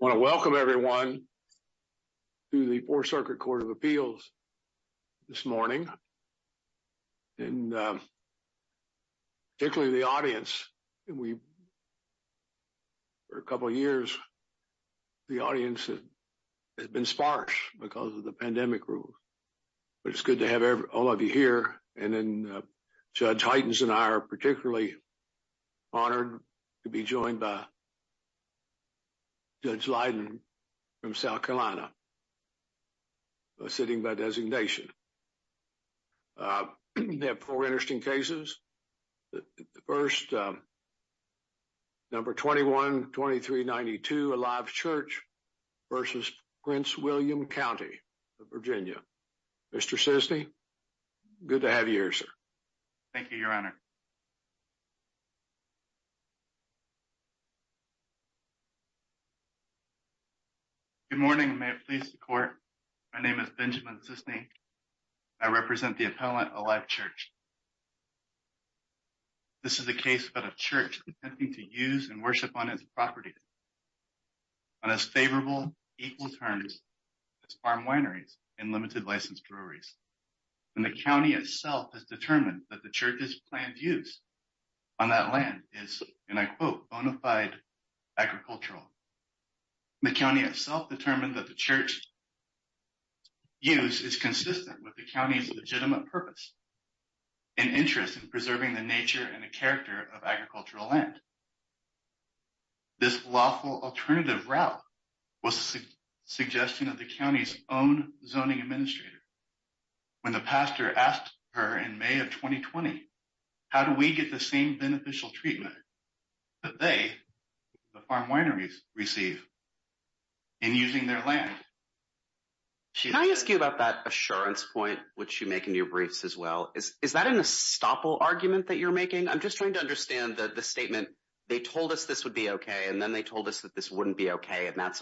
I want to welcome everyone to the Fourth Circuit Court of Appeals this morning. And particularly the audience. For a couple of years, the audience has been sparse because of the pandemic rules. But it's good to have all of you here. And then Judge Heitens and I are Judge Leiden from South Carolina, sitting by designation. We have four interesting cases. The first, number 21-2392, Alive Church v. Prince William County, Virginia. Mr. Cisney, good to have you here, sir. Thank you, Your Honor. Benjamin Cisney Good morning. May it please the Court, my name is Benjamin Cisney. I represent the appellant, Alive Church. This is a case about a church attempting to use and worship on its property on as favorable, equal terms as farm wineries and limited license breweries. And the county itself has determined that the church's planned use on that land is, and I quote, bona fide agricultural. The county itself determined that the church's use is consistent with the county's legitimate purpose and interest in preserving the nature and the character of agricultural land. This lawful alternative route was a suggestion of the county's own zoning administrator. When the pastor asked her in May of 2020, how do we get the same beneficial treatment that they, the farm wineries, receive in using their land? Can I ask you about that assurance point, which you make in your briefs as well? Is that an estoppel argument that you're making? I'm just trying to understand the statement, they told us this would be okay, and then they told us that this wouldn't be okay, and that's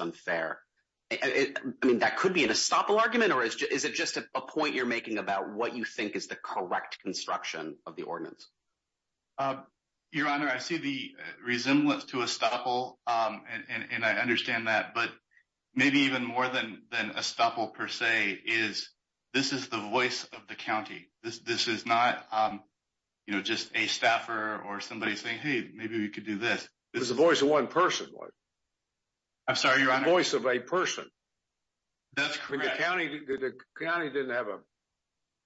a point you're making about what you think is the correct construction of the ordinance. Your Honor, I see the resemblance to estoppel, and I understand that, but maybe even more than estoppel per se is this is the voice of the county. This is not just a staffer or somebody saying, hey, maybe we could do this. It's the voice of one person. I'm sorry, Your Honor. It's the voice of a person. That's correct. The county didn't have a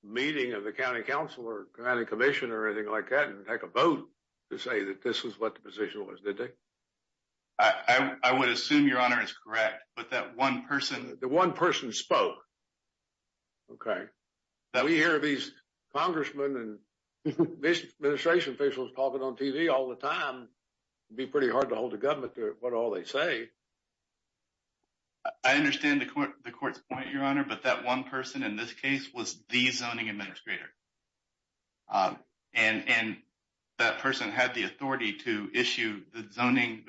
meeting of the county council or county commission or anything like that and take a vote to say that this is what the position was, did they? I would assume, Your Honor, it's correct, but that one person- The one person spoke, okay? We hear these congressmen and administration officials talking on TV all the time. It'd be pretty hard to hold the government to what all they say. I understand the court's point, Your Honor, but that one person in this case was the zoning administrator, and that person had the authority to issue the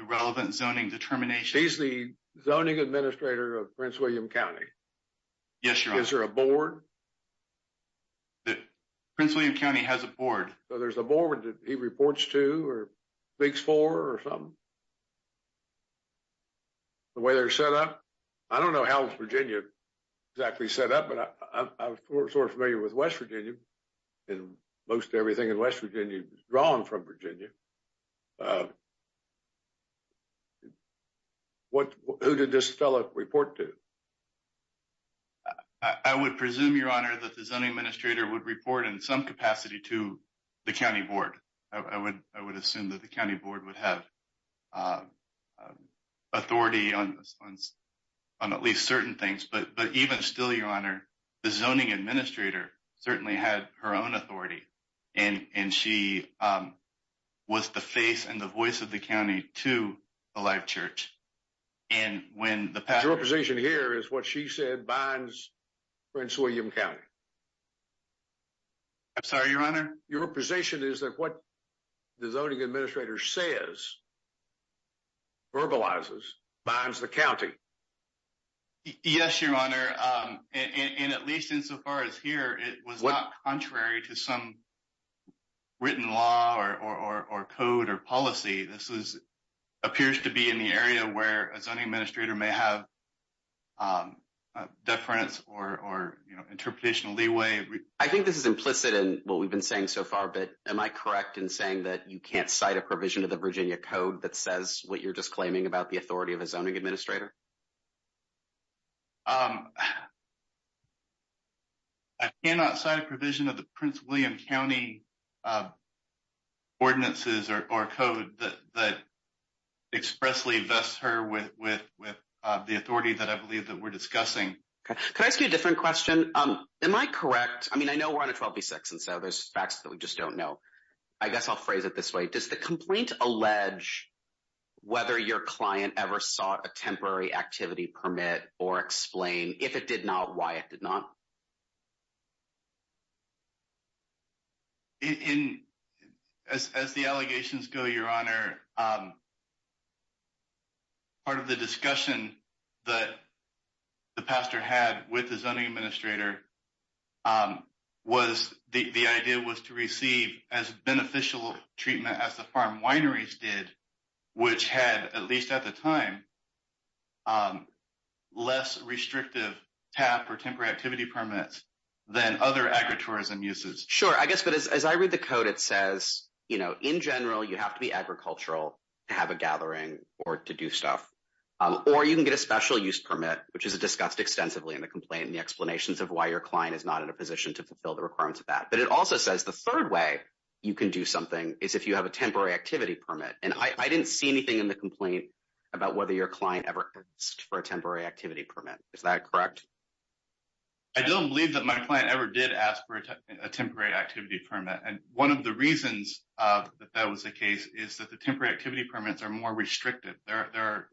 relevant zoning determination. He's the zoning administrator of Prince William County? Yes, Your Honor. Is there a board? Prince William County has a board. So there's a board that he reports to or speaks for or something? The way they're set up, I don't know how Virginia exactly set up, but I'm sort of familiar with West Virginia, and most everything in West Virginia is drawn from Virginia. Who did this fellow report to? I would presume, Your Honor, that the zoning administrator would report in some capacity to the county board. I would assume that the county board would have authority on at least certain things, but even still, Your Honor, the zoning administrator certainly had her own authority, and she was the face and the voice of the county to the live church. Your representation here is what she said binds Prince William County. I'm sorry, Your Honor? Your representation is that what the zoning administrator says, verbalizes, binds the county. Yes, Your Honor, and at least insofar as here, it was not contrary to some written law or code or policy. This appears to be in the area where a zoning administrator may have deference or interpretation of leeway. I think this is implicit in what we've been saying so far, but am I correct in saying that you can't cite a provision of the Virginia code that says what you're just claiming about the authority of a zoning administrator? I cannot cite a provision of the Prince William County ordinances or code that expressly vests her with the authority that I believe that we're discussing. Can I ask you a different question? Am I correct? I mean, I know we're on a 12b6, and so there's facts that we just don't know. I guess I'll phrase it this way. Does the complaint allege whether your client ever sought a temporary activity permit or explain if it did not, why it did not? As the allegations go, Your Honor, part of the discussion that the pastor had with the zoning administrator was the idea was to receive as beneficial treatment as the farm wineries did, which had, at least at the time, less restrictive TAP or temporary activity permits than other agritourism uses. Sure. I guess, but as I read the code, it says, in general, you have to be agricultural to have a gathering or to do stuff. Or you can get a special use permit, which is discussed extensively in the complaint and the explanations of why your client is not in a position to fulfill the requirements of that. But it also says the temporary activity permit. And I didn't see anything in the complaint about whether your client ever asked for a temporary activity permit. Is that correct? I don't believe that my client ever did ask for a temporary activity permit. And one of the reasons that that was the case is that the temporary activity permits are more restrictive. There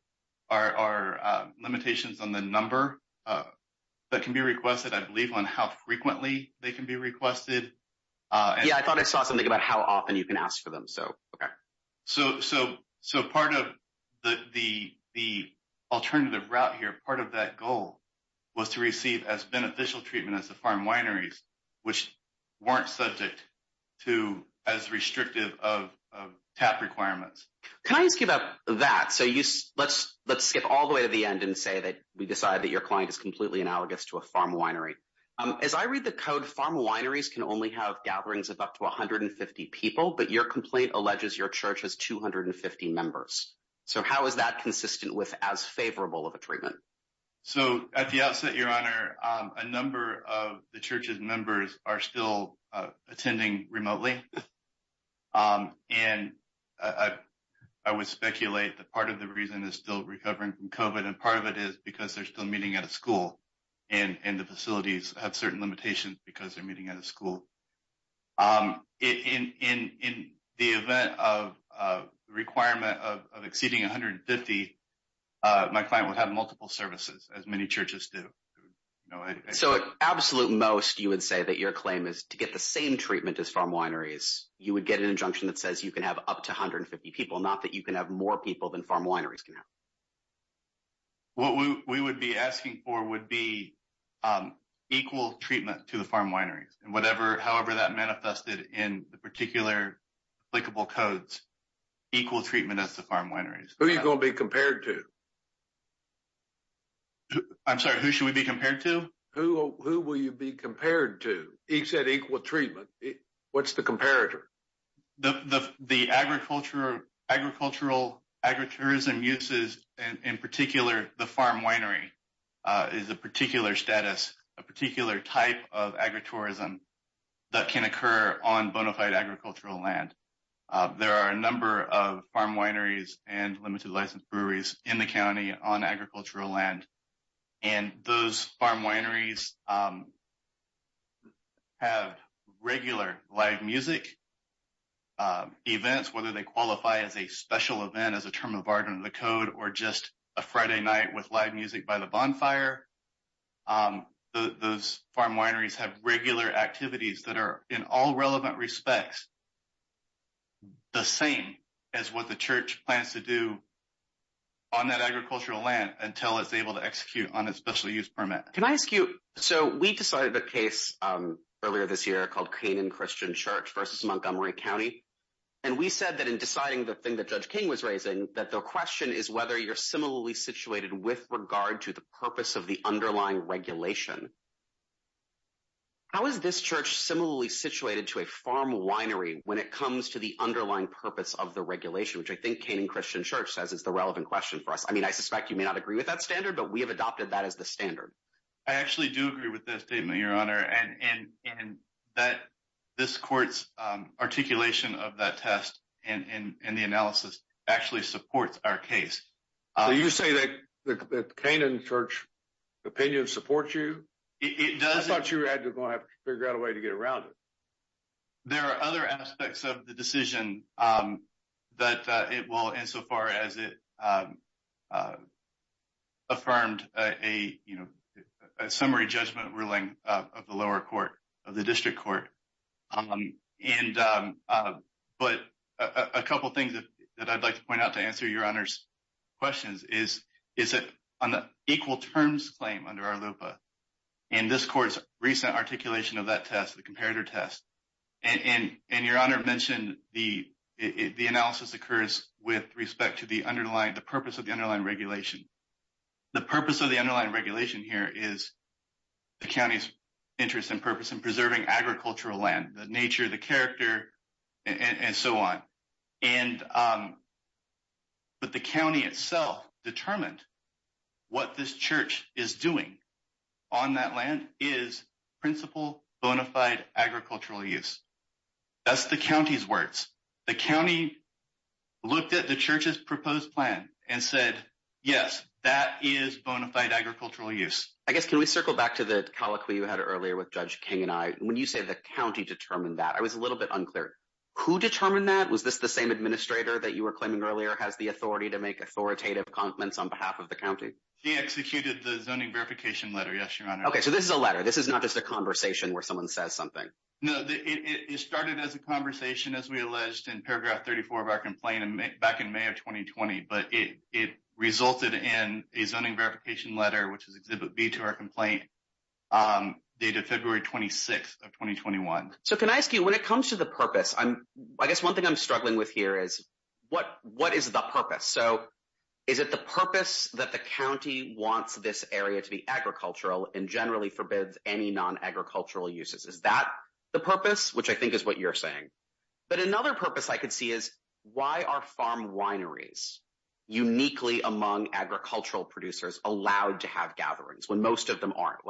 are limitations on the number that can be requested, I believe, on how frequently they can be requested. Yeah, I thought I saw something about how often you can ask for them. So, okay. So, part of the alternative route here, part of that goal was to receive as beneficial treatment as the farm wineries, which weren't subject to as restrictive of TAP requirements. Can I ask you about that? So, let's skip all the way to the end and say that we decided that your farm wineries can only have gatherings of up to 150 people, but your complaint alleges your church has 250 members. So, how is that consistent with as favorable of a treatment? So, at the outset, Your Honor, a number of the church's members are still attending remotely. And I would speculate that part of the reason is still recovering from COVID. And part of it is because they're still meeting at a school and the facilities have certain limitations because they're meeting at a school. In the event of requirement of exceeding 150, my client would have multiple services as many churches do. So, at absolute most, you would say that your claim is to get the same treatment as farm wineries, you would get an injunction that says you can have up to be equal treatment to the farm wineries. And however that manifested in the particular applicable codes, equal treatment as the farm wineries. Who are you going to be compared to? I'm sorry, who should we be compared to? Who will you be compared to? He said equal treatment. What's the comparator? The agricultural agritourism uses, in particular, the farm winery is a particular status, a particular type of agritourism that can occur on bona fide agricultural land. There are a number of farm wineries and limited license breweries in the county on agricultural land. And those events, whether they qualify as a special event, as a term of art under the code, or just a Friday night with live music by the bonfire, those farm wineries have regular activities that are in all relevant respects the same as what the church plans to do on that agricultural land until it's able to execute on a special use permit. Can I ask you, so we decided the case earlier this versus Montgomery County, and we said that in deciding the thing that Judge King was raising, that the question is whether you're similarly situated with regard to the purpose of the underlying regulation. How is this church similarly situated to a farm winery when it comes to the underlying purpose of the regulation, which I think Canaan Christian Church says is the relevant question for us? I mean, I suspect you may not agree with that standard, but we have adopted that as the standard. I actually do agree with that statement, Your Honor, and that this articulation of that test and the analysis actually supports our case. You say that the Canaan Church opinion supports you? I thought you had to figure out a way to get around it. There are other aspects of the decision that it will, insofar as it affirmed a summary judgment ruling of the lower court, of the district court, and but a couple of things that I'd like to point out to answer Your Honor's questions is that on the equal terms claim under our LUPA and this court's recent articulation of that test, the comparator test, and Your Honor mentioned the analysis occurs with respect to the purpose of the underlying regulation. The purpose of the underlying regulation here is the county's purpose in preserving agricultural land, the nature, the character, and so on. But the county itself determined what this church is doing on that land is principal bona fide agricultural use. That's the county's words. The county looked at the church's proposed plan and said, yes, that is bona fide agricultural use. I guess, can we circle back to the colloquy earlier with Judge King and I? When you say the county determined that, I was a little bit unclear. Who determined that? Was this the same administrator that you were claiming earlier has the authority to make authoritative comments on behalf of the county? He executed the zoning verification letter, yes, Your Honor. Okay, so this is a letter. This is not just a conversation where someone says something. No, it started as a conversation, as we alleged in paragraph 34 of our complaint back in May of 2020, but it resulted in a zoning verification letter, which is exhibit B to our complaint. Date of February 26th of 2021. So can I ask you, when it comes to the purpose, I guess one thing I'm struggling with here is what is the purpose? So is it the purpose that the county wants this area to be agricultural and generally forbids any non-agricultural uses? Is that the purpose, which I think is what you're saying? But another purpose I could see is why are farm wineries uniquely among agricultural producers allowed to have gatherings when most of them aren't?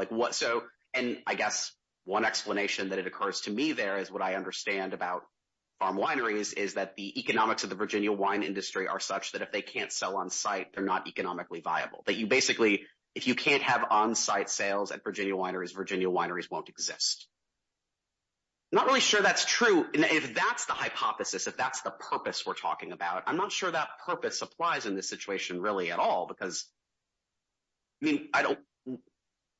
And I guess one explanation that it occurs to me there is what I understand about farm wineries is that the economics of the Virginia wine industry are such that if they can't sell on site, they're not economically viable. That you basically, if you can't have on-site sales at Virginia wineries, Virginia wineries won't exist. Not really sure that's true. If that's the hypothesis, if that's the purpose we're talking about, I'm not sure that purpose applies in this I mean, I don't,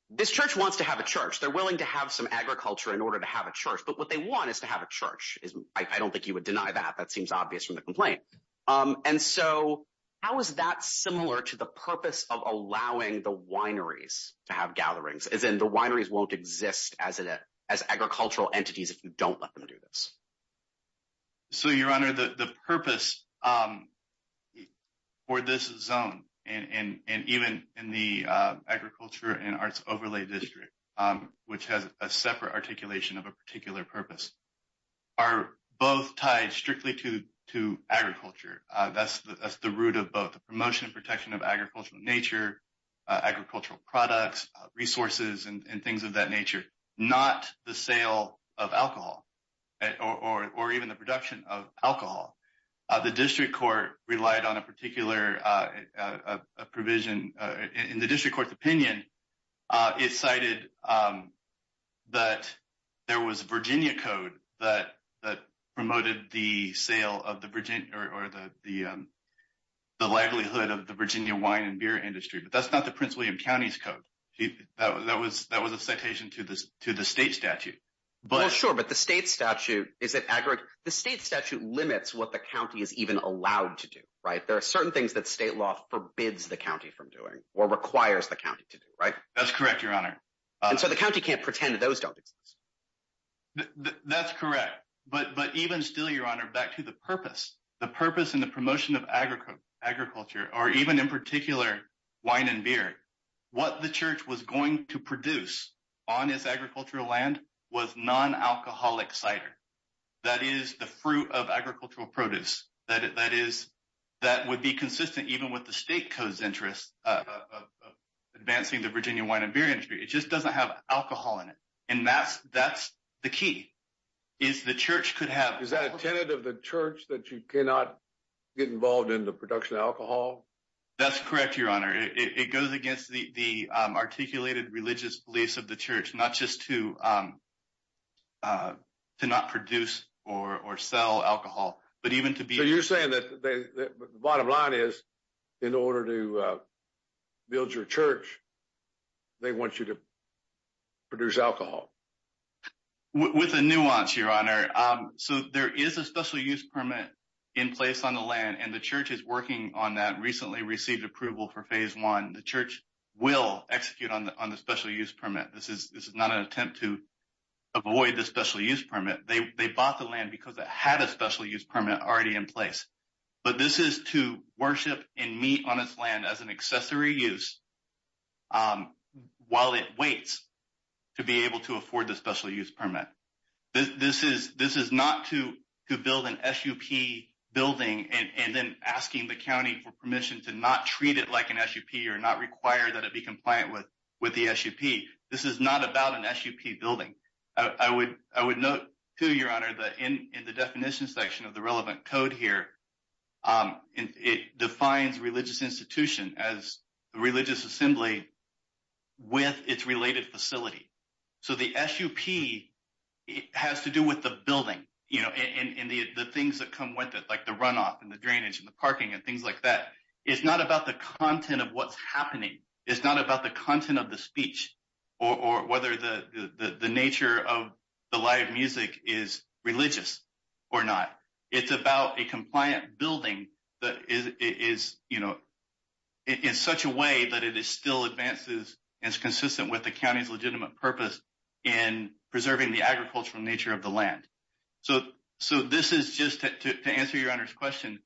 this church wants to have a church. They're willing to have some agriculture in order to have a church, but what they want is to have a church. I don't think you would deny that. That seems obvious from the complaint. And so how is that similar to the purpose of allowing the wineries to have gatherings? As in the wineries won't exist as agricultural entities if you don't let them do this. So your honor, the purpose for this zone and even in the agriculture and arts overlay district, which has a separate articulation of a particular purpose, are both tied strictly to agriculture. That's the root of both the promotion and protection of agricultural nature, agricultural products, resources, and things of that nature, not the sale of alcohol or even the production of alcohol. The district court relied on a particular provision. In the district court's opinion, it cited that there was Virginia code that promoted the sale of the Virginia or the livelihood of the Virginia wine and beer industry. But that's not the Prince William County's code. That was a citation to the state statute. Well, sure, but the state statute, is it aggregate? The state statute limits what the county is even allowed to do, right? There are certain things that state law forbids the county from doing or requires the county to do, right? That's correct, your honor. And so the county can't pretend that those don't exist. That's correct. But even still, your honor, back to the purpose, the purpose and the promotion of agriculture or even in particular wine and beer, what the church was going to produce on his agricultural land was non-alcoholic cider. That is the fruit of agricultural produce. That would be consistent even with the state code's interest of advancing the Virginia wine and beer industry. It just doesn't have alcohol in it. And that's the key, is the church could have- Is that a tenet of the church that you cannot get involved in the production of alcohol? That's correct, your honor. It goes against the articulated religious beliefs of the church, not just to not produce or sell alcohol, but even to be- So you're saying that the bottom line is, in order to build your church, they want you to produce alcohol? With a nuance, your honor. So there is a special use permit in place on the land and the church is working on that, recently received approval for phase one. The church will execute on the special use permit. This is not an attempt to avoid the special use permit. They bought the land because it had a special use permit already in place. But this is to worship and meet on its land as an accessory use while it waits to be able to afford the special use permit. This is not to build an SUP building and then asking the county for permission to not treat it like an SUP or not require that it be compliant with the SUP. This is not about an SUP building. I would note too, your honor, that in the definition section of the relevant code here, it defines religious institution as the religious assembly with its related facility. So the SUP has to do with the building and the things that come with it, the runoff and the drainage and the parking and things like that. It's not about the content of what's happening. It's not about the content of the speech or whether the nature of the live music is religious or not. It's about a compliant building that is in such a way that it still advances and is consistent with the county's legitimate purpose in preserving the agricultural nature of the land. So this is just to answer your honor's question.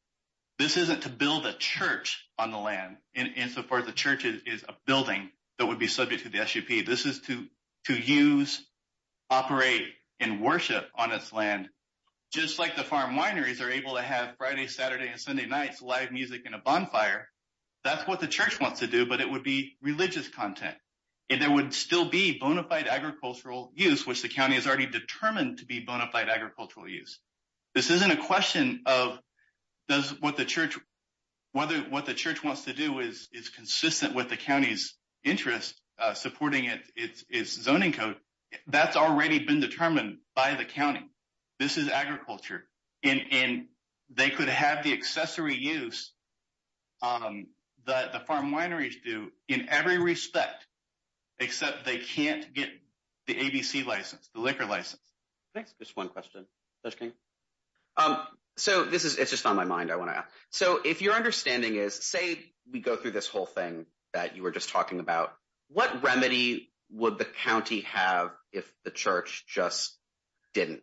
This isn't to build a church on the land insofar as the church is a building that would be subject to the SUP. This is to use, operate, and worship on its land, just like the farm wineries are able to have Friday, Saturday, and Sunday nights live music in a bonfire. That's what the church wants to do, but it would be religious content. And there would still be bona fide agricultural use, which the county is already determined to be bona fide agricultural use. This isn't a question of what the church wants to do is consistent with the county's interest supporting its zoning code. That's already been determined by the county. This is agriculture. And they could have the liquor license. Thanks. Just one question. So this is just on my mind, I want to ask. So if your understanding is, say, we go through this whole thing that you were just talking about, what remedy would the county have if the church just didn't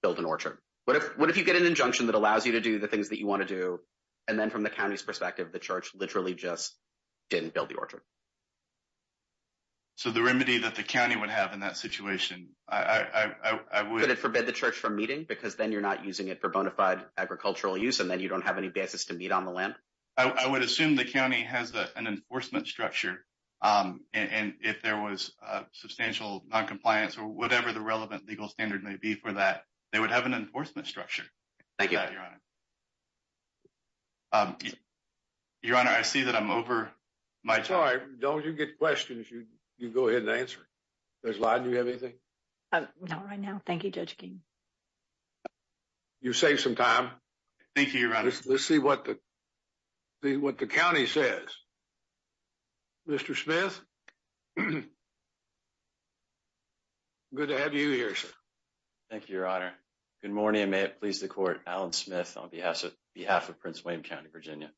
build an orchard? What if you get an injunction that allows you to do the things that you want to do, and then from the county's perspective, the church literally just didn't build the orchard? So the remedy that the county would have in that situation, I would... Would it forbid the church from meeting because then you're not using it for bona fide agricultural use, and then you don't have any basis to meet on the land? I would assume the county has an enforcement structure. And if there was substantial noncompliance or whatever the relevant legal standard may be for that, they would have an enforcement structure. Thank you. Your Honor, I see that I'm over my time. Sorry, don't you get questions, you go ahead and answer. Judge Lyden, do you have anything? Not right now. Thank you, Judge King. You saved some time. Thank you, Your Honor. Let's see what the county says. Mr. Smith? Good to have you here, sir. Thank you, Your Honor. Good morning, and may it please the court. Alan Smith on behalf of Prince William County, Virginia.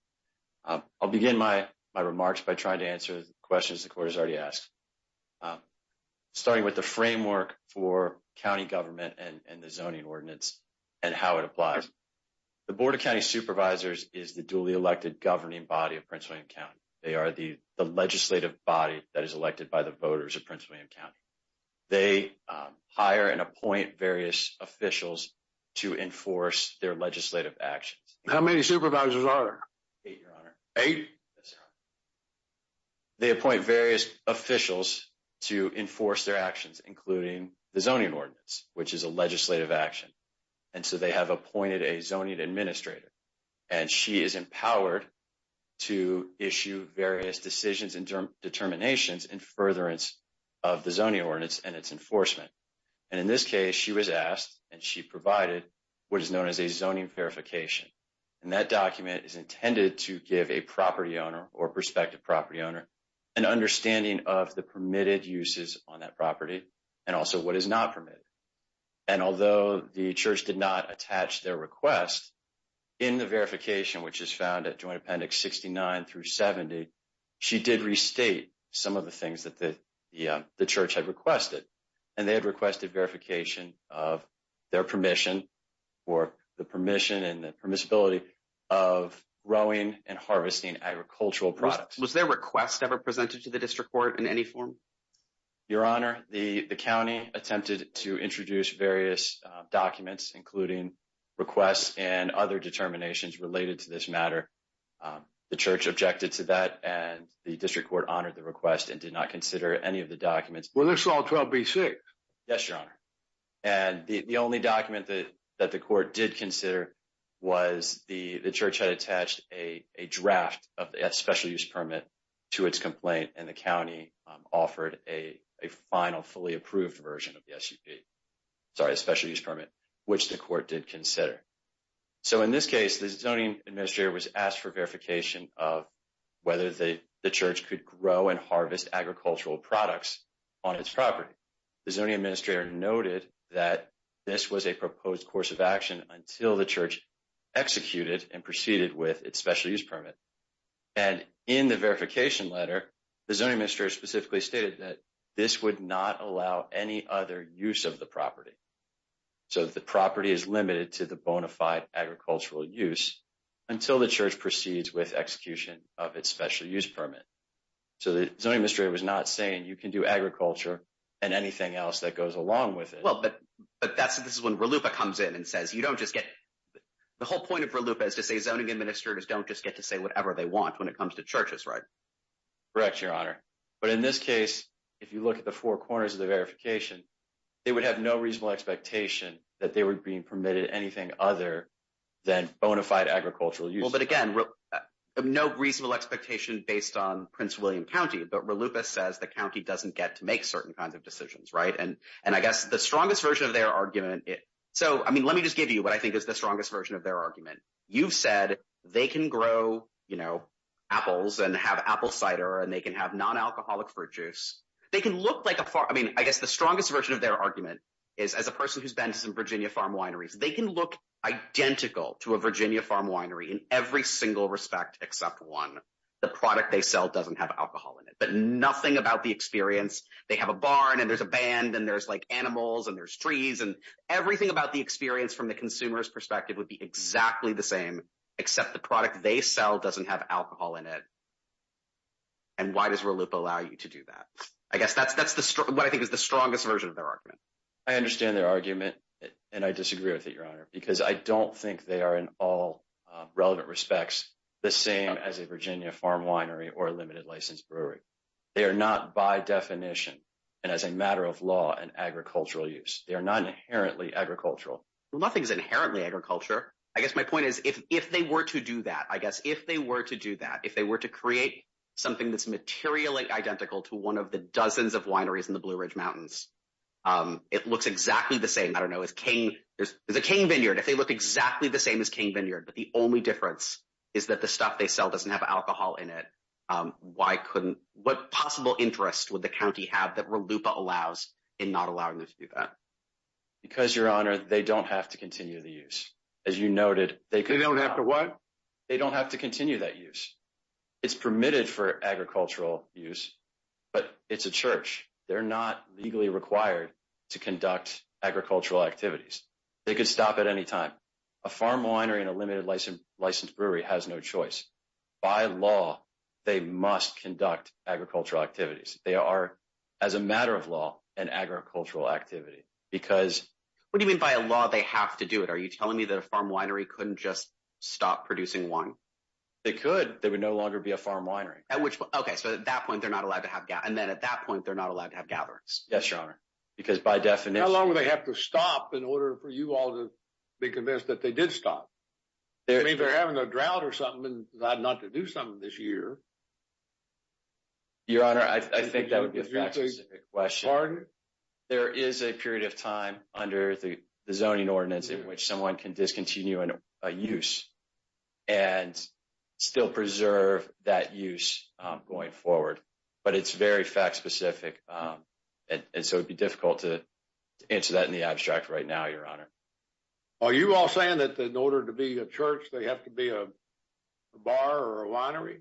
I'll begin my remarks by trying to answer the questions the court has already asked. I'm starting with the framework for county government and the zoning ordinance and how it applies. The Board of County Supervisors is the duly elected governing body of Prince William County. They are the legislative body that is elected by the voters of Prince William County. They hire and appoint various officials to enforce their legislative actions. How many supervisors are there? Eight, Your Honor. Eight? That's right. They appoint various officials to enforce their actions, including the zoning ordinance, which is a legislative action. And so, they have appointed a zoning administrator, and she is empowered to issue various decisions and determinations in furtherance of the zoning ordinance and its enforcement. And in this case, she was asked and she provided what is known as a zoning verification. And that document is intended to give a property owner or prospective property owner an understanding of the permitted uses on that property and also what is not permitted. And although the church did not attach their request in the verification, which is found at Joint Appendix 69 through 70, she did restate some of the things that the church had requested. And they had requested verification of their permission or the Was their request ever presented to the district court in any form? Your Honor, the county attempted to introduce various documents, including requests and other determinations related to this matter. The church objected to that and the district court honored the request and did not consider any of the documents. Were this all 12B6? Yes, Your Honor. And the only document that the court did consider was the church had attached a draft of the special use permit to its complaint and the county offered a final, fully approved version of the SEP. Sorry, a special use permit, which the court did consider. So, in this case, the zoning administrator was asked for verification of whether the church could grow and harvest agricultural products on its property. The zoning administrator noted that this was a proposed course of action until the church executed and proceeded with its special use permit. And in the verification letter, the zoning administrator specifically stated that this would not allow any other use of the property. So, the property is limited to the bona fide agricultural use until the church proceeds with execution of its special use permit. So, the zoning administrator was not saying you can do agriculture and anything else that goes along with it. Well, but this is when RLUIPA comes in and says you don't just get, the whole point of RLUIPA is to say zoning administrators don't just get to say whatever they want when it comes to churches, right? Correct, Your Honor. But in this case, if you look at the four corners of the verification, they would have no reasonable expectation that they were being permitted anything other than bona fide agricultural use. Well, but again, no reasonable expectation based on Prince William County, but RLUIPA says the right. And I guess the strongest version of their argument, so, I mean, let me just give you what I think is the strongest version of their argument. You've said they can grow apples and have apple cider and they can have non-alcoholic fruit juice. They can look like a farm, I mean, I guess the strongest version of their argument is as a person who's been to some Virginia farm wineries, they can look identical to a Virginia farm winery in every single respect except one, the product they sell doesn't have alcohol in it, but nothing about the experience. They have a barn and there's a band and there's like animals and there's trees and everything about the experience from the consumer's perspective would be exactly the same, except the product they sell doesn't have alcohol in it. And why does RLUIPA allow you to do that? I guess that's what I think is the strongest version of their argument. I understand their argument and I disagree with it, Your Honor, because I don't think they are in all relevant respects the same as a Virginia farm winery or a limited license brewery. They are not by definition and as a matter of law an agricultural use. They are not inherently agricultural. Nothing's inherently agriculture. I guess my point is if they were to do that, I guess if they were to do that, if they were to create something that's materially identical to one of the dozens of wineries in the Blue Ridge Mountains, it looks exactly the same. I don't know, there's a cane vineyard, if they look exactly the same as cane vineyard, but the only difference is that the stuff they sell doesn't have alcohol in it. What possible interest would the county have that RLUIPA allows in not allowing them to do that? Because, Your Honor, they don't have to continue the use. As you noted, they could- They don't have to what? They don't have to continue that use. It's permitted for agricultural use, but it's a church. They're not legally required to conduct agricultural activities. They could stop at any time. A farm winery and a limited licensed brewery has no choice. By law, they must conduct agricultural activities. They are, as a matter of law, an agricultural activity because- What do you mean by a law they have to do it? Are you telling me that a farm winery couldn't just stop producing wine? They could. There would no longer be a farm winery. At which point? Okay, so at that point, they're not allowed to have- And then at that point, they're not allowed to have gatherings. Yes, Your Honor, because by definition- For you all to be convinced that they did stop. If they're having a drought or something and not to do something this year. Your Honor, I think that would be a fact specific question. There is a period of time under the zoning ordinance in which someone can discontinue a use and still preserve that use going forward, but it's very fact specific. And so it'd be difficult to answer that in the abstract right now, Your Honor. Are you all saying that in order to be a church, they have to be a bar or a winery?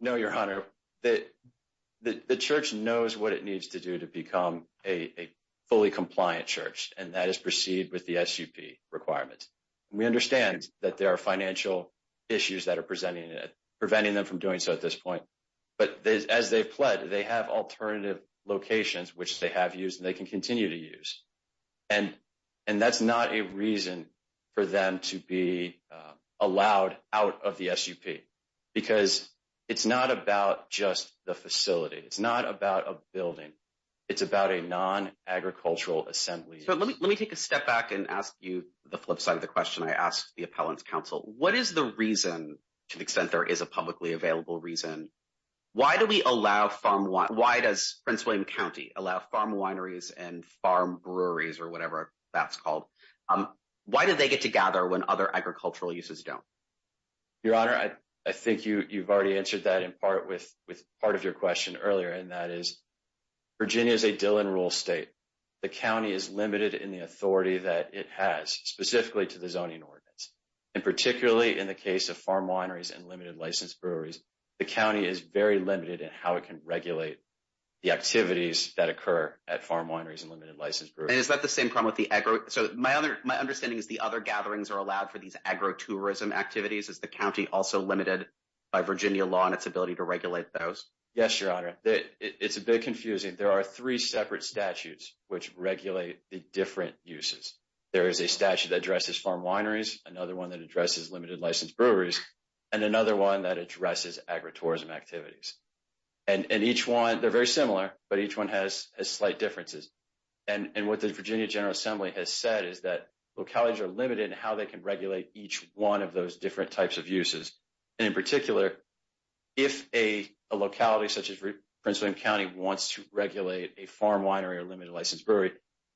No, Your Honor. The church knows what it needs to do to become a fully compliant church, and that is proceed with the SUP requirements. We understand that there are financial issues that are presenting it, doing so at this point. But as they've pledged, they have alternative locations, which they have used and they can continue to use. And that's not a reason for them to be allowed out of the SUP, because it's not about just the facility. It's not about a building. It's about a non-agricultural assembly. So let me take a step back and ask you the flip side of the question I asked the Appellants Council. What is the reason, to the extent there is a publicly available reason, why do we allow farm wine? Why does Prince William County allow farm wineries and farm breweries or whatever that's called? Why do they get together when other agricultural uses don't? Your Honor, I think you've already answered that in part with part of your question earlier, and that is Virginia is a Dillon rule state. The county is limited in the authority that it has, specifically to the zoning ordinance. And particularly in the case of farm wineries and limited licensed breweries, the county is very limited in how it can regulate the activities that occur at farm wineries and limited licensed breweries. And is that the same problem with the agro? So my understanding is the other gatherings are allowed for these agro-tourism activities. Is the county also limited by Virginia law in its ability to regulate those? Yes, Your Honor. It's a bit confusing. There are three separate statutes which regulate the different uses. There is a statute that addresses farm wineries, another one that addresses limited licensed breweries, and another one that addresses agro-tourism activities. And each one, they're very similar, but each one has slight differences. And what the Virginia General Assembly has said is that localities are limited in how they can regulate each one of those different types of uses. And in particular, if a locality such as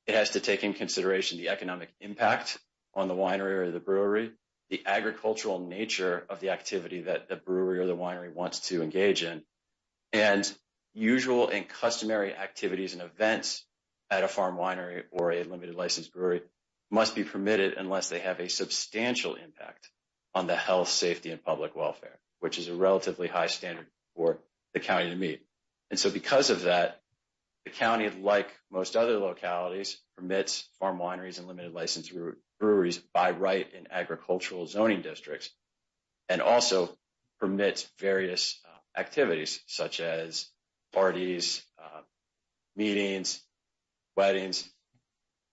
it has to take into consideration the economic impact on the winery or the brewery, the agricultural nature of the activity that the brewery or the winery wants to engage in, and usual and customary activities and events at a farm winery or a limited licensed brewery must be permitted unless they have a substantial impact on the health, safety, and public welfare, which is a relatively high standard for the county to meet. And so because of that, the county, like most other localities, permits farm wineries and limited licensed breweries by right in agricultural zoning districts and also permits various activities such as parties, meetings, weddings.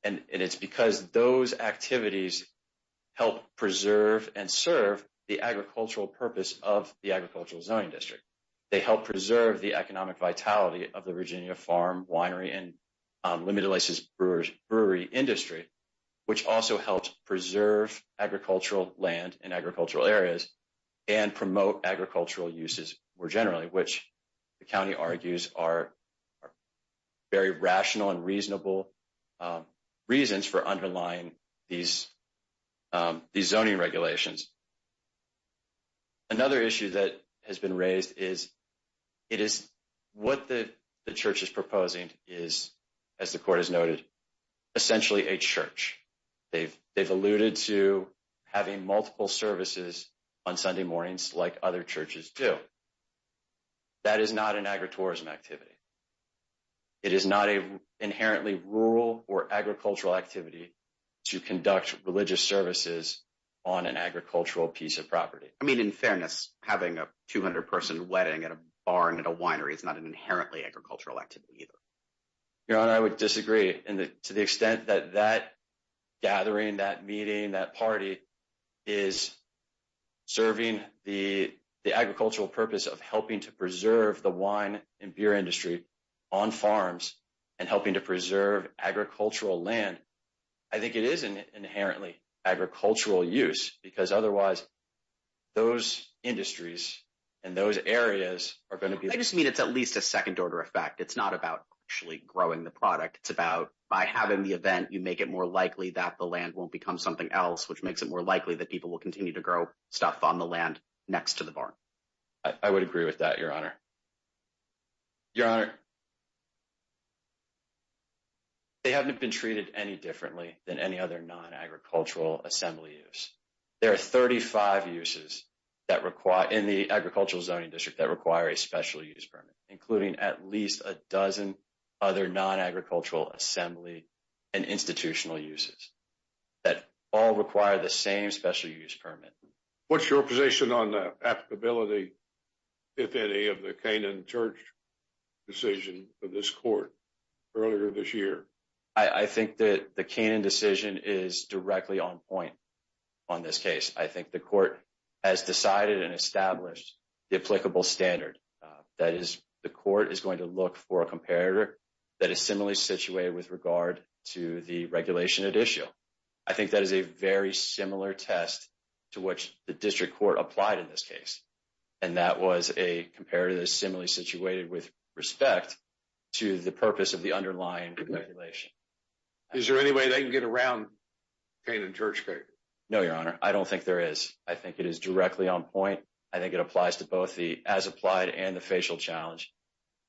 And it's because those activities help preserve and serve the agricultural purpose of the agricultural zoning district. They help preserve the economic vitality of the Virginia farm winery and limited licensed brewery industry, which also helps preserve agricultural land and agricultural areas and promote agricultural uses more generally, which the county argues are very rational and reasonable reasons for underlying these zoning regulations. Another issue that has been raised is what the church is proposing is, as the court has noted, essentially a church. They've alluded to having multiple services on Sunday mornings like other churches do. That is not an agritourism activity. It is not an inherently rural or agricultural activity to conduct religious services on an agricultural piece of property. I mean, in fairness, having a 200-person wedding at a barn at a winery is not an inherently agricultural activity either. Your Honor, I would disagree to the extent that that gathering, that meeting, that party is serving the agricultural purpose of helping to preserve the wine and beer industry on farms and helping to preserve agricultural land. I think it is an inherently agricultural use because otherwise those industries and those areas are going to be- I just mean it's at least a second-order effect. It's not about actually growing the product. It's about by having the event, you make it more likely that the land won't become something else, which makes it more likely that people will continue to grow stuff on the land next to the barn. I would agree with that, Your Honor. Your Honor, they haven't been treated any differently than any other non-agricultural assembly use. There are 35 uses in the agricultural zoning district that require a special use permit, including at least a dozen other non-agricultural assembly and institutional uses that all require the same special use permit. What's your position on the applicability, if any, of the Kanan Church decision for this court earlier this year? I think that the Kanan decision is directly on point on this case. I think the court has decided and established the applicable standard. That is, the court is going to look for a comparator that is similarly situated with regard to the regulation at issue. I think that is a very similar test to what the district court applied in this case. That was a comparator that is similarly situated with respect to the purpose of the underlying regulation. Is there any way they can get around the Kanan Church case? No, Your Honor. I don't think there is. I think it is directly on point. I think it applies to both the as-applied and the facial challenge.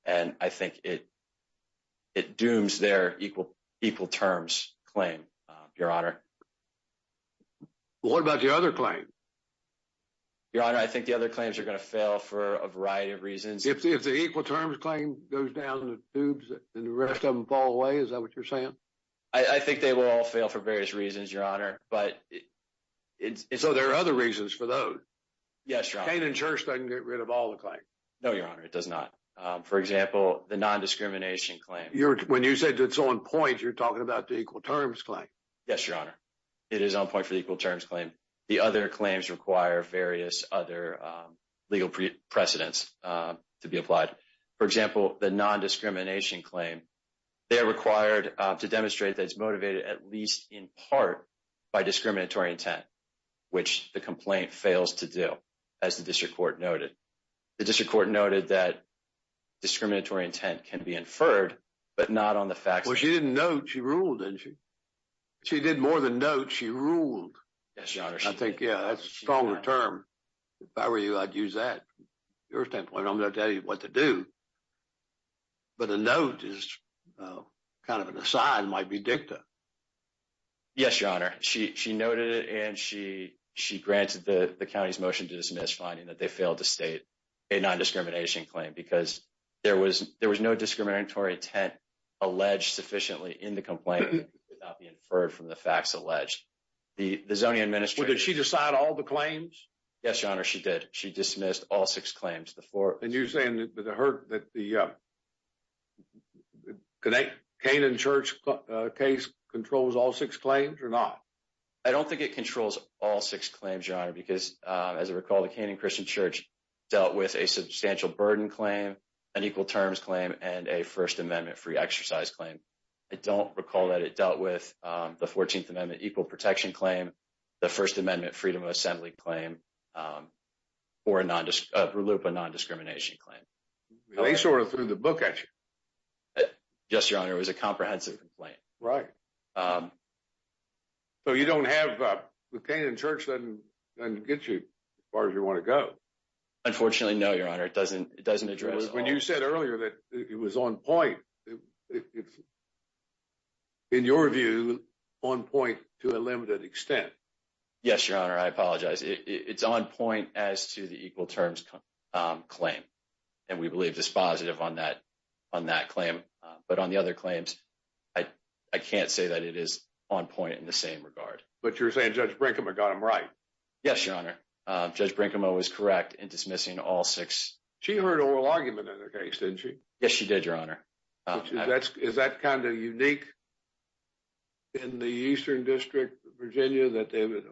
I think it dooms their equal-terms claim, Your Honor. What about the other claim? Your Honor, I think the other claims are going to fail for a variety of reasons. If the equal-terms claim goes down the tubes and the rest of them fall away, is that what you're saying? I think they will all fail for various reasons, Your Honor. So there are other reasons for those? Yes, Your Honor. Kanan Church doesn't get rid of all the claims? No, Your Honor. It does not. For example, the non-discrimination claim. When you said it's on point, you're talking about the equal-terms claim. Yes, Your Honor. It is on point for the equal-terms claim. The other claims require various other legal precedents to be applied. For example, the non-discrimination claim, they are required to demonstrate that it's motivated at least in part by discriminatory intent, which the complaint fails to do, as the district court noted. The district court noted that discriminatory intent can be inferred, but not on the facts. Well, she didn't note. She ruled, didn't she? She did more than note. She ruled. Yes, Your Honor. I think, yeah, that's a stronger term. If I were you, I'd use that. At your standpoint, I'm going to tell you what to do. But a note is kind of an aside, might be dicta. Yes, Your Honor. She noted it, and she granted the county's motion to dismiss, finding that they failed to state a non-discrimination claim, because there was no discriminatory intent alleged sufficiently in the complaint that could not be inferred from the facts alleged. The zoning administrator- Well, did she decide all the claims? Yes, Your Honor. She did. She dismissed all six claims. And you're saying that the Kane and Church case controls all six claims, or not? I don't think it controls all six claims, Your Honor, because, as I recall, the Kane and Christian Church dealt with a substantial burden claim, an equal terms claim, and a First Amendment free exercise claim. I don't recall that it dealt with the 14th Amendment equal protection claim, the First Amendment freedom of assembly claim, or a RLUIPA non-discrimination claim. They sort of threw the book at you. Yes, Your Honor. It was a comprehensive complaint. Right. So you don't have the Kane and Church that can get you as far as you want to go? Unfortunately, no, Your Honor. It doesn't address- When you said earlier that it was on point, in your view, on point to a limited extent. Yes, Your Honor. I apologize. It's on point as to the equal terms claim, and we believe this on that claim. But on the other claims, I can't say that it is on point in the same regard. But you're saying Judge Brinkema got them right. Yes, Your Honor. Judge Brinkema was correct in dismissing all six. She heard oral argument in the case, didn't she? Yes, she did, Your Honor. Is that kind of unique in the Eastern District of Virginia that they would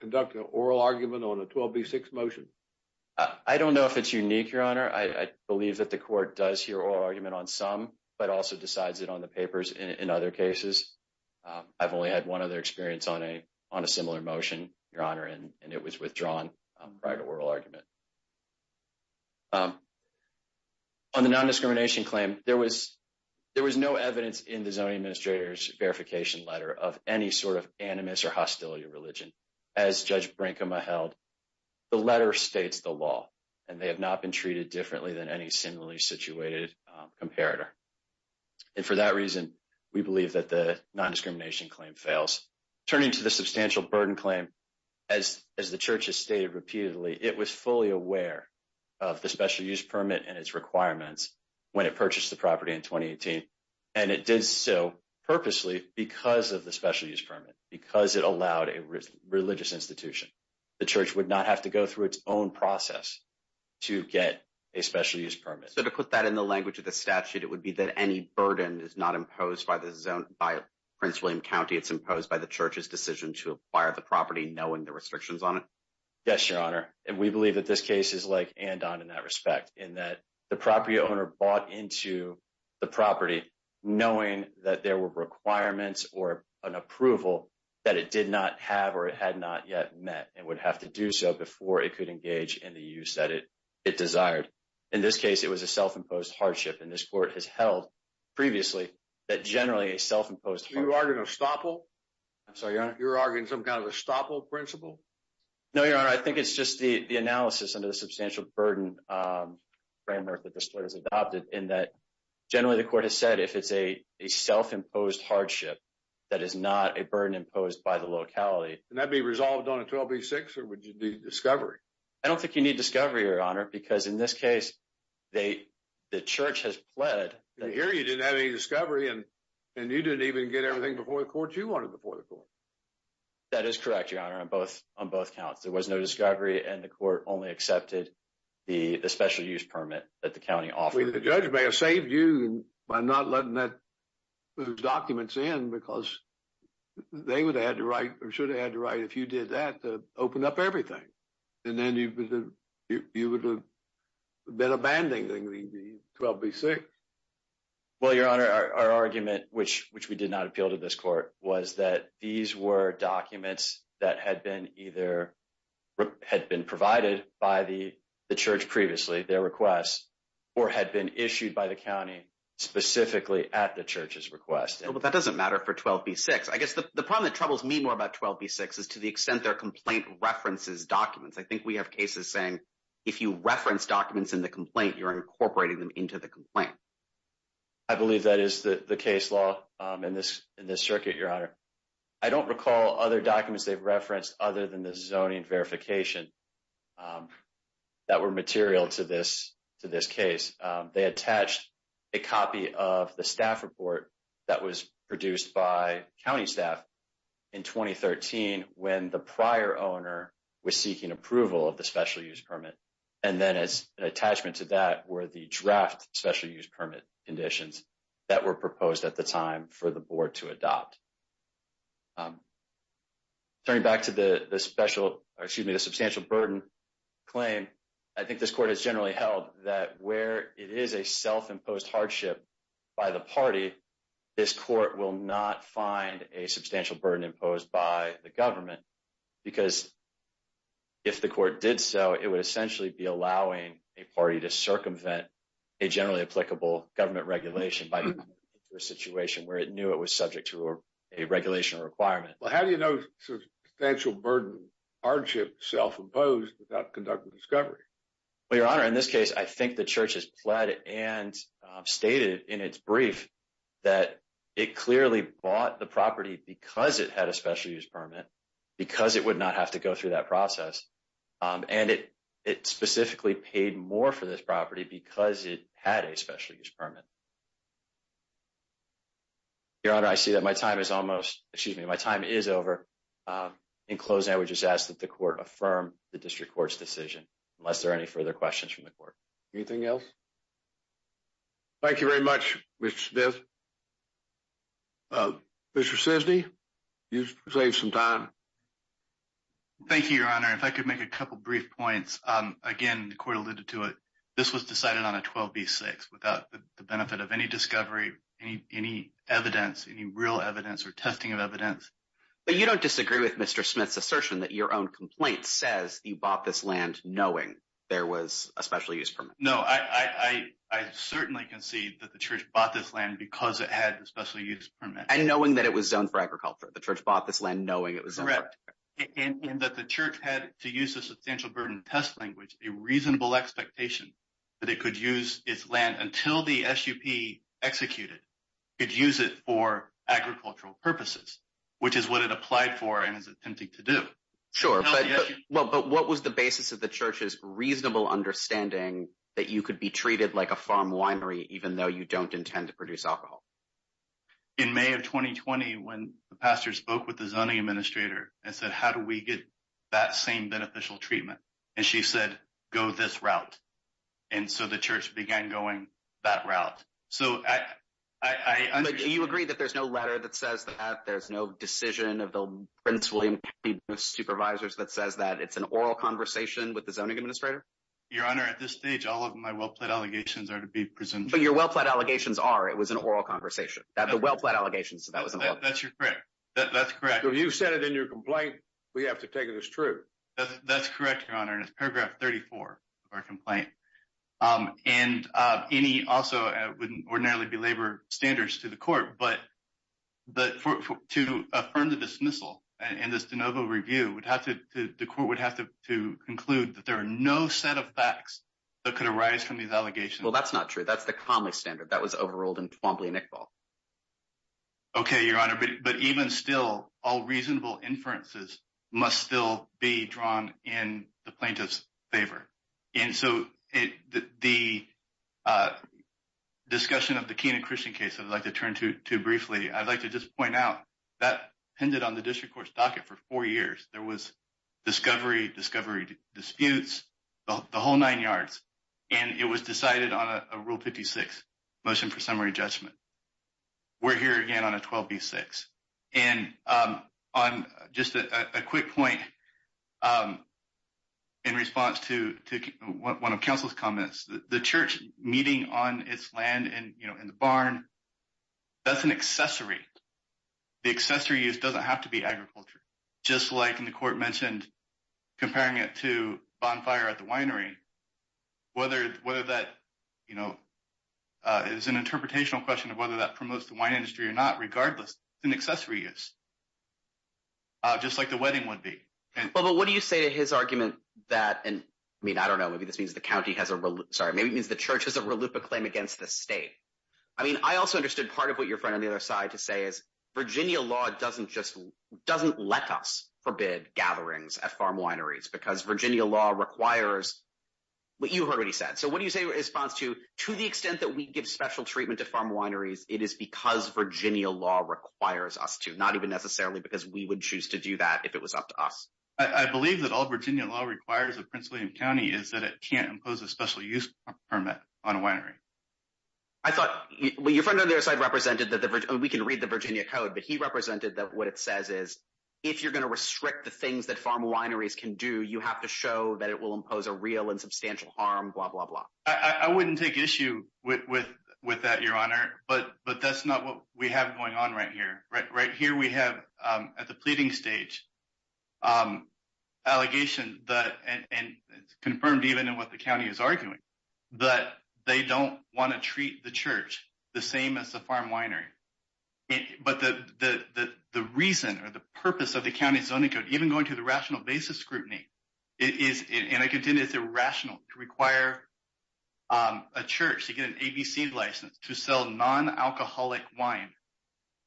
conduct an oral argument on a 12B6 motion? I don't know if it's unique, Your Honor. I believe that the court does hear oral argument on some, but also decides it on the papers in other cases. I've only had one other experience on a similar motion, Your Honor, and it was withdrawn prior to oral argument. On the non-discrimination claim, there was no evidence in the zoning administrator's verification letter of any sort of animus or hostility religion, as Judge Brinkema held. The letter states the law, and they have not been treated differently than any similarly situated comparator. And for that reason, we believe that the non-discrimination claim fails. Turning to the substantial burden claim, as the Church has stated repeatedly, it was fully aware of the special use permit and its requirements when it purchased the property in 2018. And it did so purposely because of the special use permit, because it allowed a religious institution. The Church would not have to go through its own process to get a special use permit. So to put that in the language of the statute, it would be that any burden is not imposed by Prince William County. It's imposed by the Church's decision to acquire the property, knowing the restrictions on it? Yes, Your Honor. And we believe that this case is like Andon in that respect, in that the property owner bought into the property knowing that there were requirements or an approval that it did not have or it had not yet met, and would have to do so before it could engage in the use that it desired. In this case, it was a self-imposed hardship. And this Court has held previously that generally a self-imposed hardship... You're arguing estoppel? I'm sorry, Your Honor? You're arguing some kind of estoppel principle? No, Your Honor. I think it's just the analysis under the substantial burden framework that this Court has adopted, in that generally the Court has said if it's a self-imposed hardship, that is not a burden imposed by the locality... And that'd be resolved on a 12B6, or would you need discovery? I don't think you need discovery, Your Honor, because in this case, the Church has pled... Here you didn't have any discovery, and you didn't even get everything before the Court you wanted before the Court. That is correct, Your Honor, on both counts. There was no discovery, and the Court only accepted the special use permit that the County offered. The judge may have saved you by not letting those documents in, because they would have had to write, or should have had to write, if you did that, to open up everything. And then you would have been abandoning the 12B6. Well, Your Honor, our argument, which we did not appeal to this Court, was that these were documents that had been either... Had been provided by the Church previously, their requests, or had been issued by the County specifically at the Church's request. But that doesn't matter for 12B6. I guess the problem that troubles me more about 12B6 is to the extent their complaint references documents. I think we have cases saying, if you reference documents in the complaint, you're incorporating them into the complaint. I believe that is the case law in this circuit, Your Honor. I don't recall other documents they've referred to in this case that were material to this case. They attached a copy of the staff report that was produced by County staff in 2013, when the prior owner was seeking approval of the special use permit. And then as an attachment to that were the draft special use permit conditions that were proposed at the time for the Board to adopt. Turning back to the substantial burden claim, I think this Court has generally held that where it is a self-imposed hardship by the party, this Court will not find a substantial burden imposed by the government. Because if the Court did so, it would essentially be allowing a party to circumvent a generally applicable government regulation by a situation where it knew it was a regulation requirement. But how do you know substantial burden hardship self-imposed without conduct of discovery? Well, Your Honor, in this case, I think the Church has pled and stated in its brief that it clearly bought the property because it had a special use permit, because it would not have to go through that process. And it specifically paid more for this property because it had a special use permit. Your Honor, I see that my time is almost, excuse me, my time is over. In closing, I would just ask that the Court affirm the District Court's decision, unless there are any further questions from the Court. Anything else? Thank you very much, Mr. Smith. Mr. Cisney, you've saved some time. Thank you, Your Honor. If I could make a couple of brief points. Again, the Court alluded to it, this was decided on a 12B6 without the benefit of any discovery, any evidence, any real evidence or testing of evidence. But you don't disagree with Mr. Smith's assertion that your own complaint says you bought this land knowing there was a special use permit. No, I certainly concede that the Church bought this land because it had a special use permit. And knowing that it was zoned for agriculture. The Church bought this land knowing it was a... Correct. And that the Church to use a substantial burden test language, a reasonable expectation that it could use its land until the SUP executed, could use it for agricultural purposes, which is what it applied for and is attempting to do. Sure. But what was the basis of the Church's reasonable understanding that you could be treated like a farm winery even though you don't intend to produce alcohol? In May of 2020, when the pastor spoke with the zoning administrator and said, how do we get that same beneficial treatment? And she said, go this route. And so the Church began going that route. So I... But do you agree that there's no letter that says that, there's no decision of the Prince William County Supervisors that says that it's an oral conversation with the zoning administrator? Your Honor, at this stage, all of my well-planned allegations are to be presented... But your well-planned allegations are, it was an oral conversation. The well-planned allegations, that was... That's correct. That's correct. So you've said it in your complaint, we have to take it as true. That's correct, Your Honor. And it's paragraph 34 of our complaint. And any also wouldn't ordinarily be labor standards to the court, but to affirm the dismissal and this de novo review, the court would have to conclude that there are no set of facts that could arise from these allegations. Well, that's not true. That's commonly standard that was overruled in Twombly and Iqbal. Okay, Your Honor. But even still, all reasonable inferences must still be drawn in the plaintiff's favor. And so the discussion of the Kenan Christian case, I'd like to turn to briefly, I'd like to just point out that ended on the district court's docket for four years. There was discovery, discovery disputes, the whole nine yards, and it was decided on a rule 56 motion for summary judgment. We're here again on a 12B6. And on just a quick point in response to one of counsel's comments, the church meeting on its land in the barn, that's an accessory. The accessory use doesn't have to be agriculture. Just like in the court mentioned, comparing it to bonfire at the winery, whether that is an interpretational question of whether that promotes the wine industry or not, regardless, an accessory use, just like the wedding would be. But what do you say to his argument that, I mean, I don't know, maybe this means the county has a, sorry, maybe it means the church has a reluctant claim against the state. I mean, I also understood part of what your friend on the other side to say is Virginia law doesn't let us forbid gatherings at farm wineries because Virginia law requires what you already said. So what do you say in response to, to the extent that we give special treatment to farm wineries, it is because Virginia law requires us to, not even necessarily because we would choose to do that if it was up to us. I believe that all Virginia law requires of Prince William County is that it can't impose a special use permit on a winery. I thought your friend on the other side represented that we can read the Virginia code, but he represented that what it says is, if you're going to restrict the things that farm wineries can do, you have to show that it will impose a real and substantial harm, blah, blah, blah. I wouldn't take issue with that, Your Honor, but that's not what we have going on right here. Right here we have at the pleading stage, allegation that, and it's arguing, that they don't want to treat the church the same as the farm winery. But the reason or the purpose of the county zoning code, even going to the rational basis scrutiny, it is, and I contend it's irrational to require a church to get an ABC license to sell non-alcoholic wine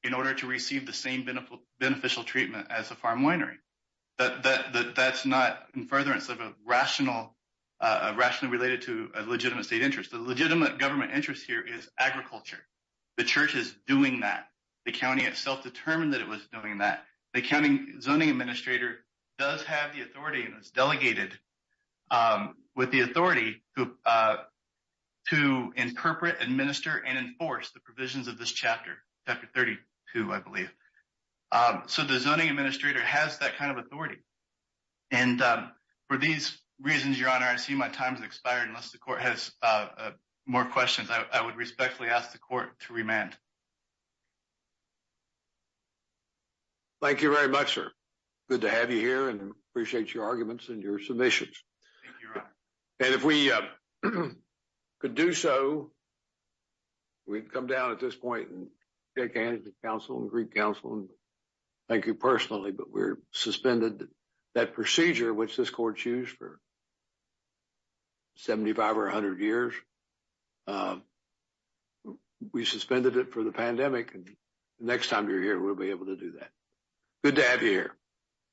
in order to receive the same beneficial treatment as a farm winery. That's not in furtherance of a rational, rationally related to a legitimate state interest. The legitimate government interest here is agriculture. The church is doing that. The county itself determined that it was doing that. The county zoning administrator does have the authority, and it's delegated with the authority to interpret, administer, and enforce the provisions of this chapter, Chapter 32, I believe. So the zoning administrator has that kind of authority. And for these reasons, Your Honor, seeing my time has expired, unless the court has more questions, I would respectfully ask the court to remand. Thank you very much, sir. Good to have you here and appreciate your arguments and your submissions. Thank you, Your Honor. And if we could do so, we'd come down at this point and shake hands with the council and Greek council and thank you personally, but we're suspended that procedure, which this court used for 75 or 100 years. We suspended it for the pandemic, and next time you're here, we'll be able to do that. Good to have you here.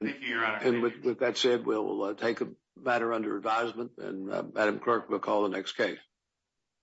Thank you, Your Honor. And with that said, we'll take a matter under advisement and Madam Clerk will call the next case.